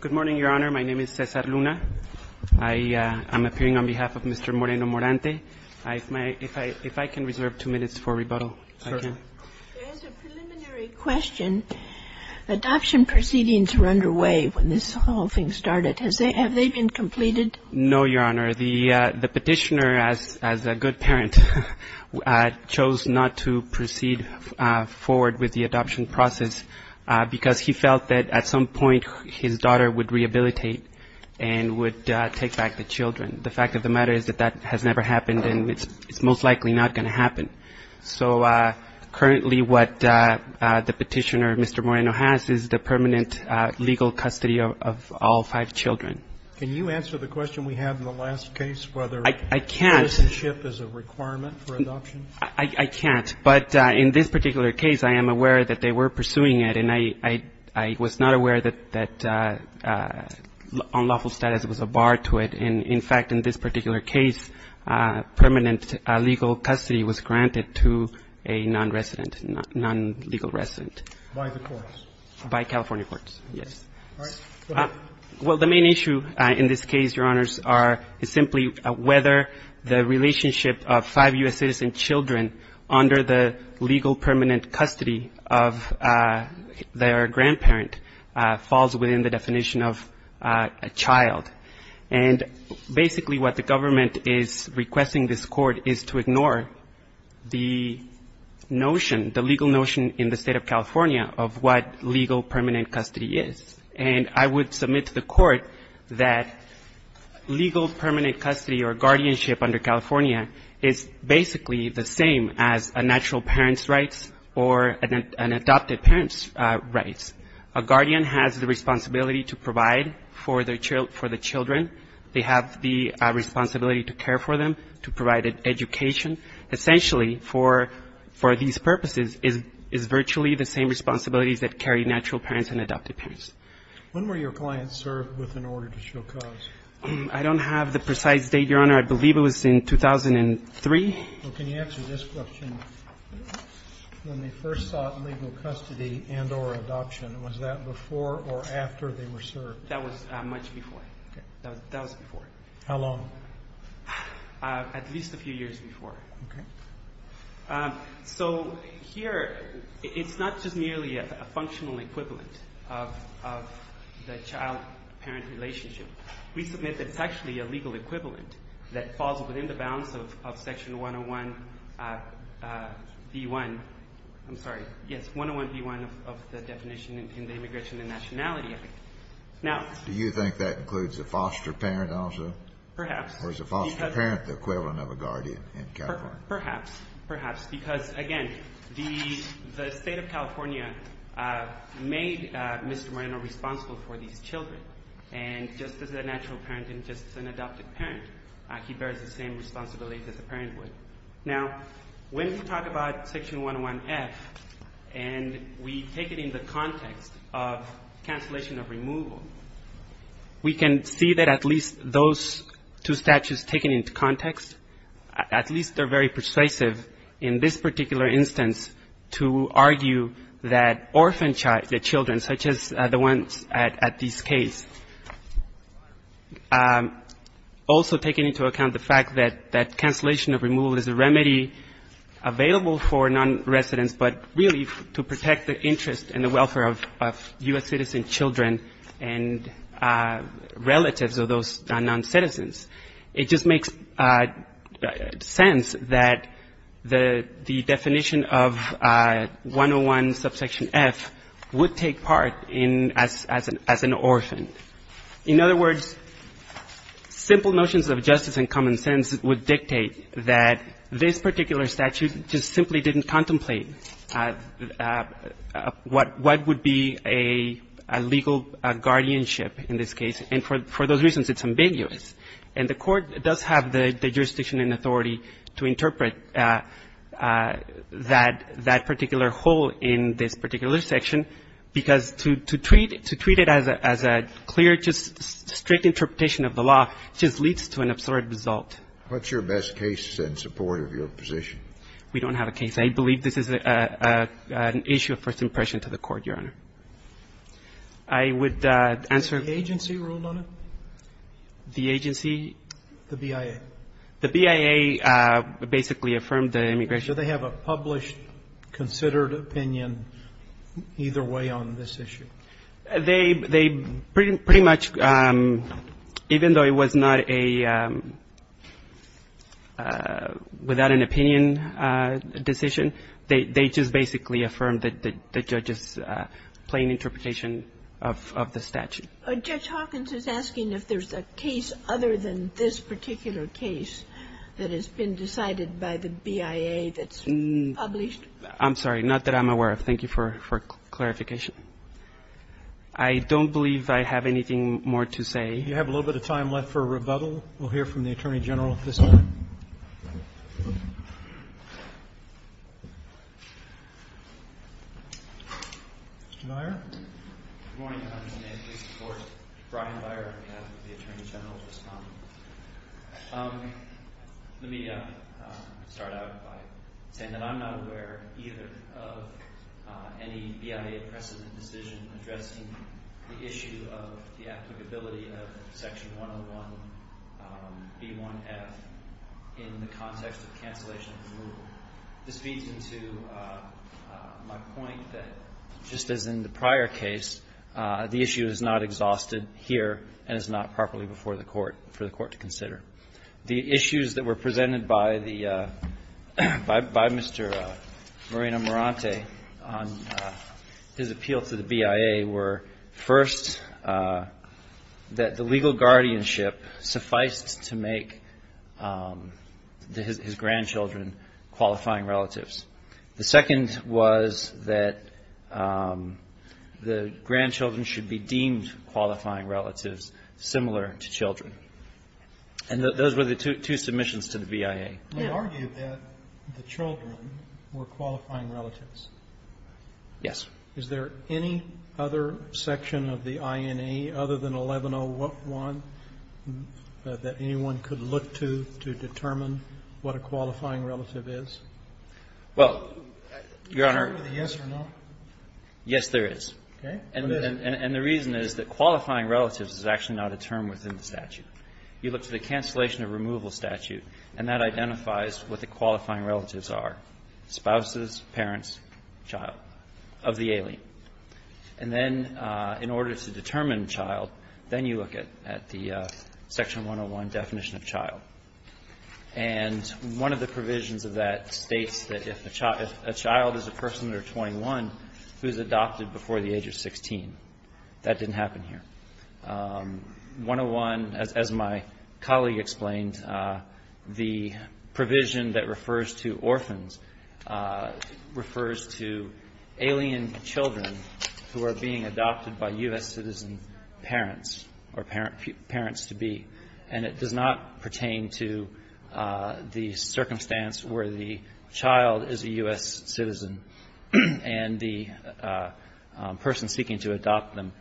Good morning, Your Honor. My name is Cesar Luna. I am appearing on behalf of Mr. Moreno-Morante. If I can reserve two minutes for rebuttal, I can. Certainly. There is a preliminary question. Adoption proceedings were underway when this whole thing started. Have they been completed? No, Your Honor. The petitioner, as a good parent, chose not to proceed forward with the adoption process because he felt that at some point his daughter would rehabilitate and would take back the children. The fact of the matter is that that has never happened and it's most likely not going to happen. So currently what the petitioner, Mr. Moreno, has is the permanent legal custody of all five children. Can you answer the question we had in the last case, whether citizenship is a requirement for adoption? I can't. But in this particular case, I am aware that they were pursuing it and I was not aware that unlawful status was a bar to it. In fact, in this particular case, permanent legal custody was granted to a non-resident, non-legal resident. By the courts? By California courts, yes. All right. Go ahead. Well, the main issue in this case, Your Honors, is simply whether the relationship of five U.S. citizen children under the legal permanent custody of their grandparent falls within the definition of a child. And basically what the government is requesting this Court is to ignore the notion, the legal notion in the State of California of what legal permanent custody is. And I would submit to the Court that legal permanent custody or guardianship under California is basically the same as a natural parent's rights or an adopted parent's rights. A guardian has the responsibility to provide for the children. They have the responsibility to care for them, to provide an education. Essentially for these purposes is virtually the same responsibilities that carry natural parents and adopted parents. When were your clients served with an order to show cause? I don't have the precise date, Your Honor. I believe it was in 2003. Well, can you answer this question? When they first sought legal custody and or adoption, was that before or after they were served? That was much before. Okay. That was before. How long? At least a few years before. Okay. So here it's not just merely a functional equivalent of the child-parent relationship. We submit that it's actually a legal equivalent that falls within the bounds of Section 101B1. I'm sorry. Yes, 101B1 of the definition in the Immigration and Nationality Act. Now do you think that includes a foster parent also? Perhaps. Or is a foster parent the equivalent of a guardian in California? Perhaps. Perhaps. Because, again, the State of California made Mr. Moreno responsible for these children. And just as a natural parent and just as an adopted parent, he bears the same responsibilities as a parent would. Now when we talk about Section 101F and we take it in the context of cancellation of removal, we can see that at least those two statutes taken into context, at least they're very persuasive in this particular instance to argue that orphan children, such as the ones at this case, also taking into account the fact that cancellation of removal is a remedy available for non-residents, but really to protect the interest and the welfare of U.S. citizen children and relatives of those non-citizens. It just makes sense that the definition of 101 subsection F would take part in as an orphan. In other words, simple notions of justice and common sense would dictate that this particular statute just simply didn't contemplate what would be a legal guardianship in this case. And for those reasons, it's ambiguous. And the Court does have the jurisdiction and authority to interpret that particular whole in this particular section, because to treat it as a clear, just strict interpretation of the law just leads to an absurd result. What's your best case in support of your position? We don't have a case. I believe this is an issue of first impression to the Court, Your Honor. I would answer the agency ruled on it. The agency? The BIA. The BIA basically affirmed the immigration. Do they have a published, considered opinion either way on this issue? They pretty much, even though it was not a without an opinion decision, they just basically affirmed the judge's plain interpretation of the statute. Judge Hawkins is asking if there's a case other than this particular case that has been decided by the BIA that's published. I'm sorry. Not that I'm aware of. Thank you for clarification. I don't believe I have anything more to say. If you have a little bit of time left for rebuttal, we'll hear from the Attorney General at this point. Mr. Beyer? Good morning. My name is Jason Forrest. Brian Beyer on behalf of the Attorney General at this time. Let me start out by saying that I'm not aware either of any BIA precedent decision addressing the issue of the applicability of Section 101B1F in the context of cancellation of removal. This feeds into my point that just as in the prior case, the issue is not exhausted here and is not properly before the court for the court to consider. The issues that were presented by Mr. Moreno-Morante on his appeal to the BIA were, first, that the legal guardianship sufficed to make his grandchildren qualifying relatives. The second was that the grandchildren should be deemed qualifying relatives similar to children. And those were the two submissions to the BIA. You argued that the children were qualifying relatives. Yes. Is there any other section of the INA other than 1101 that anyone could look to to determine what a qualifying relative is? Well, Your Honor. Is there a yes or no? Yes, there is. Okay. And the reason is that qualifying relatives is actually not a term within the statute. You look to the cancellation of removal statute, and that identifies what the qualifying relatives are, spouses, parents, child, of the alien. And then in order to determine child, then you look at the Section 101 definition of child. And one of the provisions of that states that if a child is a person under 21 who is adopted before the age of 16. That didn't happen here. 101, as my colleague explained, the provision that refers to orphans refers to alien children who are being adopted by U.S. citizen parents or parents-to-be. And it does not pertain to the circumstance where the child is a U.S. citizen and the person seeking to adopt them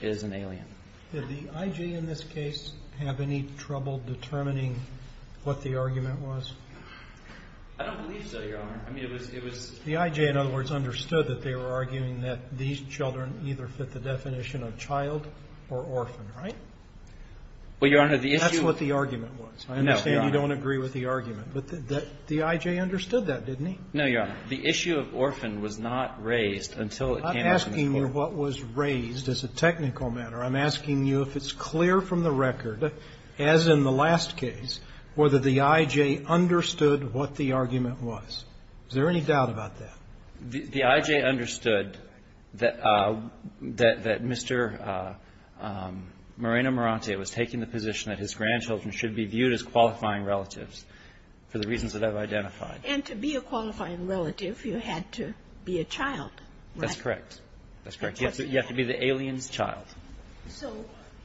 is an alien. Did the IJ in this case have any trouble determining what the argument was? I don't believe so, Your Honor. I mean, it was. The IJ, in other words, understood that they were arguing that these children either fit the definition of child or orphan, right? Well, Your Honor, the issue. That's what the argument was. No, Your Honor. I understand you don't agree with the argument. But the IJ understood that, didn't he? No, Your Honor. The issue of orphan was not raised until it came to this Court. I'm asking you what was raised as a technical matter. I'm asking you if it's clear from the record, as in the last case, whether the IJ understood what the argument was. Is there any doubt about that? The IJ understood that Mr. Moreno-Morante was taking the position that his grandchildren should be viewed as qualifying relatives for the reasons that I've identified. And to be a qualifying relative, you had to be a child, right? That's correct. That's correct. You have to be the alien's child. So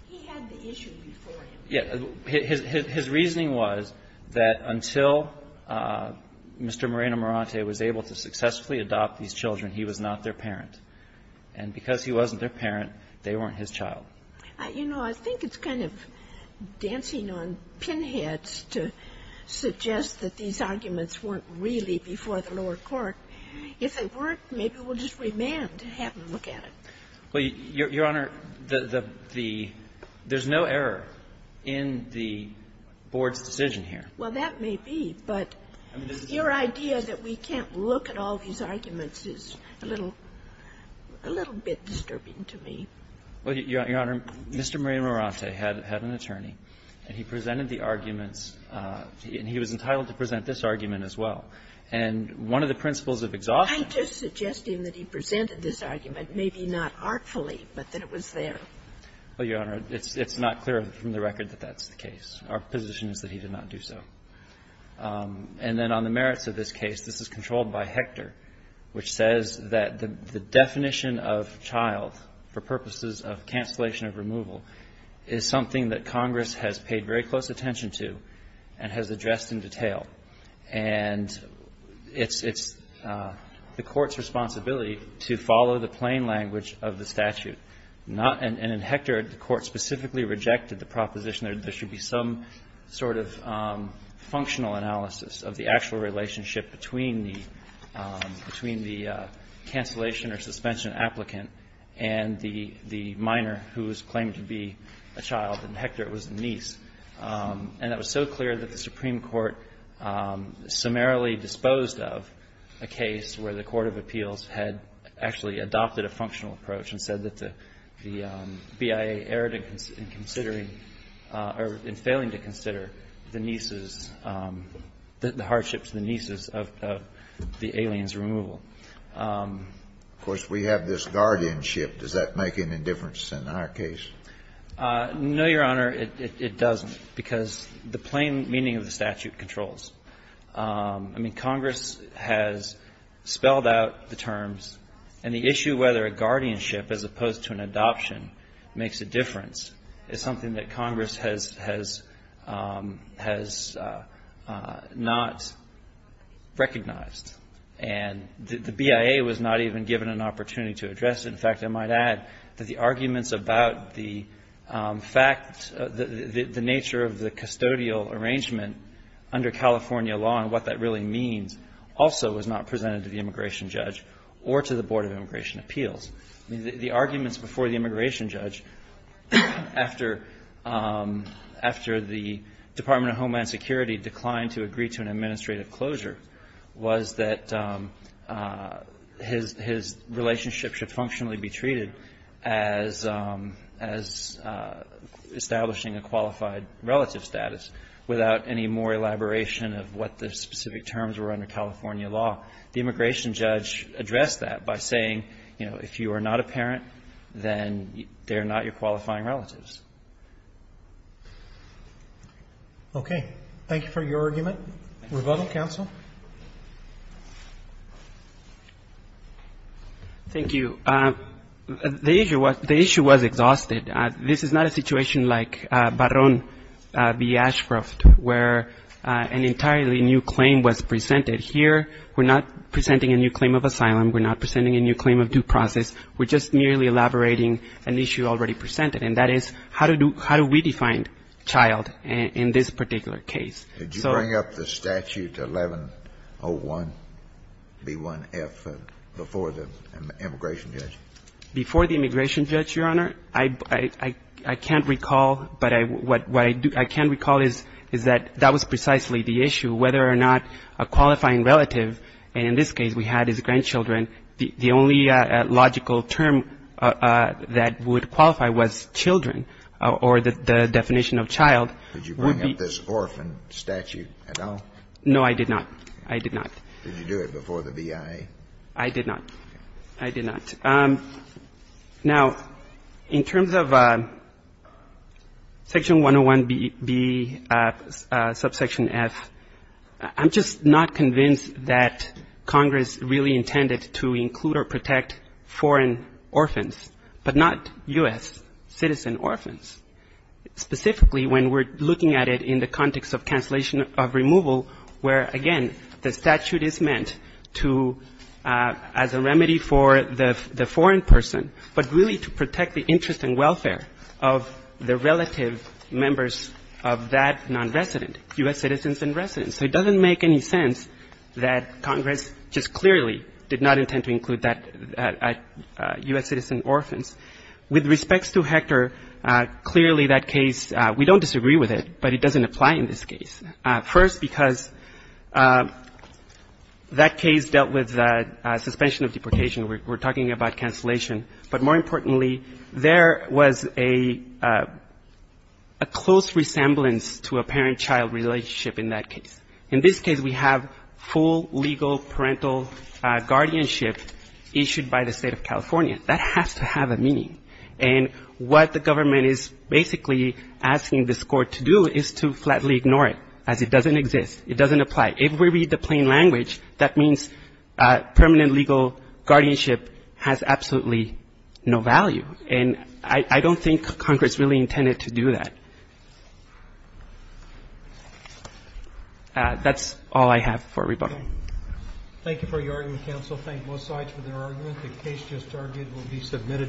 he had the issue before him. Yes. His reasoning was that until Mr. Moreno-Morante was able to successfully adopt these children, he was not their parent. And because he wasn't their parent, they weren't his child. You know, I think it's kind of dancing on pinheads to suggest that these arguments weren't really before the lower court. If they were, maybe we'll just remand and have them look at it. Well, Your Honor, there's no error in the board's decision here. Well, that may be. But your idea that we can't look at all these arguments is a little bit disturbing to me. Well, Your Honor, Mr. Moreno-Morante had an attorney, and he presented the arguments and he was entitled to present this argument as well. And one of the principles of exhaustion was that he was entitled to present the argument maybe not artfully, but that it was there. Well, Your Honor, it's not clear from the record that that's the case. Our position is that he did not do so. And then on the merits of this case, this is controlled by Hector, which says that the definition of child for purposes of cancellation of removal is something that Congress has paid very close attention to and has addressed in detail. And it's the Court's responsibility to follow the plain language of the statute. And in Hector, the Court specifically rejected the proposition that there should be some sort of functional analysis of the actual relationship between the cancellation or suspension applicant and the minor who is claimed to be a child. In Hector, it was the niece. And it was so clear that the Supreme Court summarily disposed of a case where the court of appeals had actually adopted a functional approach and said that the BIA erred in considering or in failing to consider the nieces, the hardships of the nieces of the alien's removal. Of course, we have this guardianship. Does that make any difference in our case? No, Your Honor. It doesn't, because the plain meaning of the statute controls. I mean, Congress has spelled out the terms. And the issue whether a guardianship as opposed to an adoption makes a difference is something that Congress has not recognized. And the BIA was not even given an opportunity to address it. In fact, I might add that the arguments about the fact, the nature of the custodial arrangement under California law and what that really means also was not presented to the immigration judge or to the Board of Immigration Appeals. The arguments before the immigration judge, after the Department of Homeland Security declined to agree to an administrative closure, was that his relationship should functionally be treated as establishing a qualified relative status without any more elaboration of what the specific terms were under California law. The immigration judge addressed that by saying, you know, if you are not a parent, then they're not your qualifying relatives. Okay. Rebuttal, counsel? Thank you. The issue was exhausted. This is not a situation like Barron v. Ashcroft, where an entirely new claim was presented. Here, we're not presenting a new claim of asylum. We're not presenting a new claim of due process. We're just merely elaborating an issue already presented, and that is, how do we define child in this particular case? Did you bring up the statute 1101b1f before the immigration judge? Before the immigration judge, Your Honor, I can't recall, but what I can recall is that that was precisely the issue, whether or not a qualifying relative, and in this case we had his grandchildren, the only logical term that would qualify was children or the definition of child. Did you bring up this orphan statute at all? No, I did not. I did not. Did you do it before the BIA? I did not. I did not. Now, in terms of Section 101b, subsection f, I'm just not convinced that Congress really intended to include or protect foreign orphans, but not U.S. citizen orphans. Specifically, when we're looking at it in the context of cancellation of removal, where, again, the statute is meant to as a remedy for the foreign person, but really to protect the interest and welfare of the relative members of that nonresident, U.S. citizens and residents. So it doesn't make any sense that Congress just clearly did not intend to include that U.S. citizen orphans. With respects to Hector, clearly that case, we don't disagree with it, but it doesn't apply in this case. First, because that case dealt with suspension of deportation. We're talking about cancellation. But more importantly, there was a close resemblance to a parent-child relationship in that case. In this case, we have full legal parental guardianship issued by the State of California. That has to have a meaning. And what the government is basically asking this Court to do is to flatly ignore it, as it doesn't exist. It doesn't apply. If we read the plain language, that means permanent legal guardianship has absolutely no value. And I don't think Congress really intended to do that. That's all I have for rebuttal. Roberts. Thank you for your argument, counsel. Thank both sides for their arguments. The case just targeted will be submitted.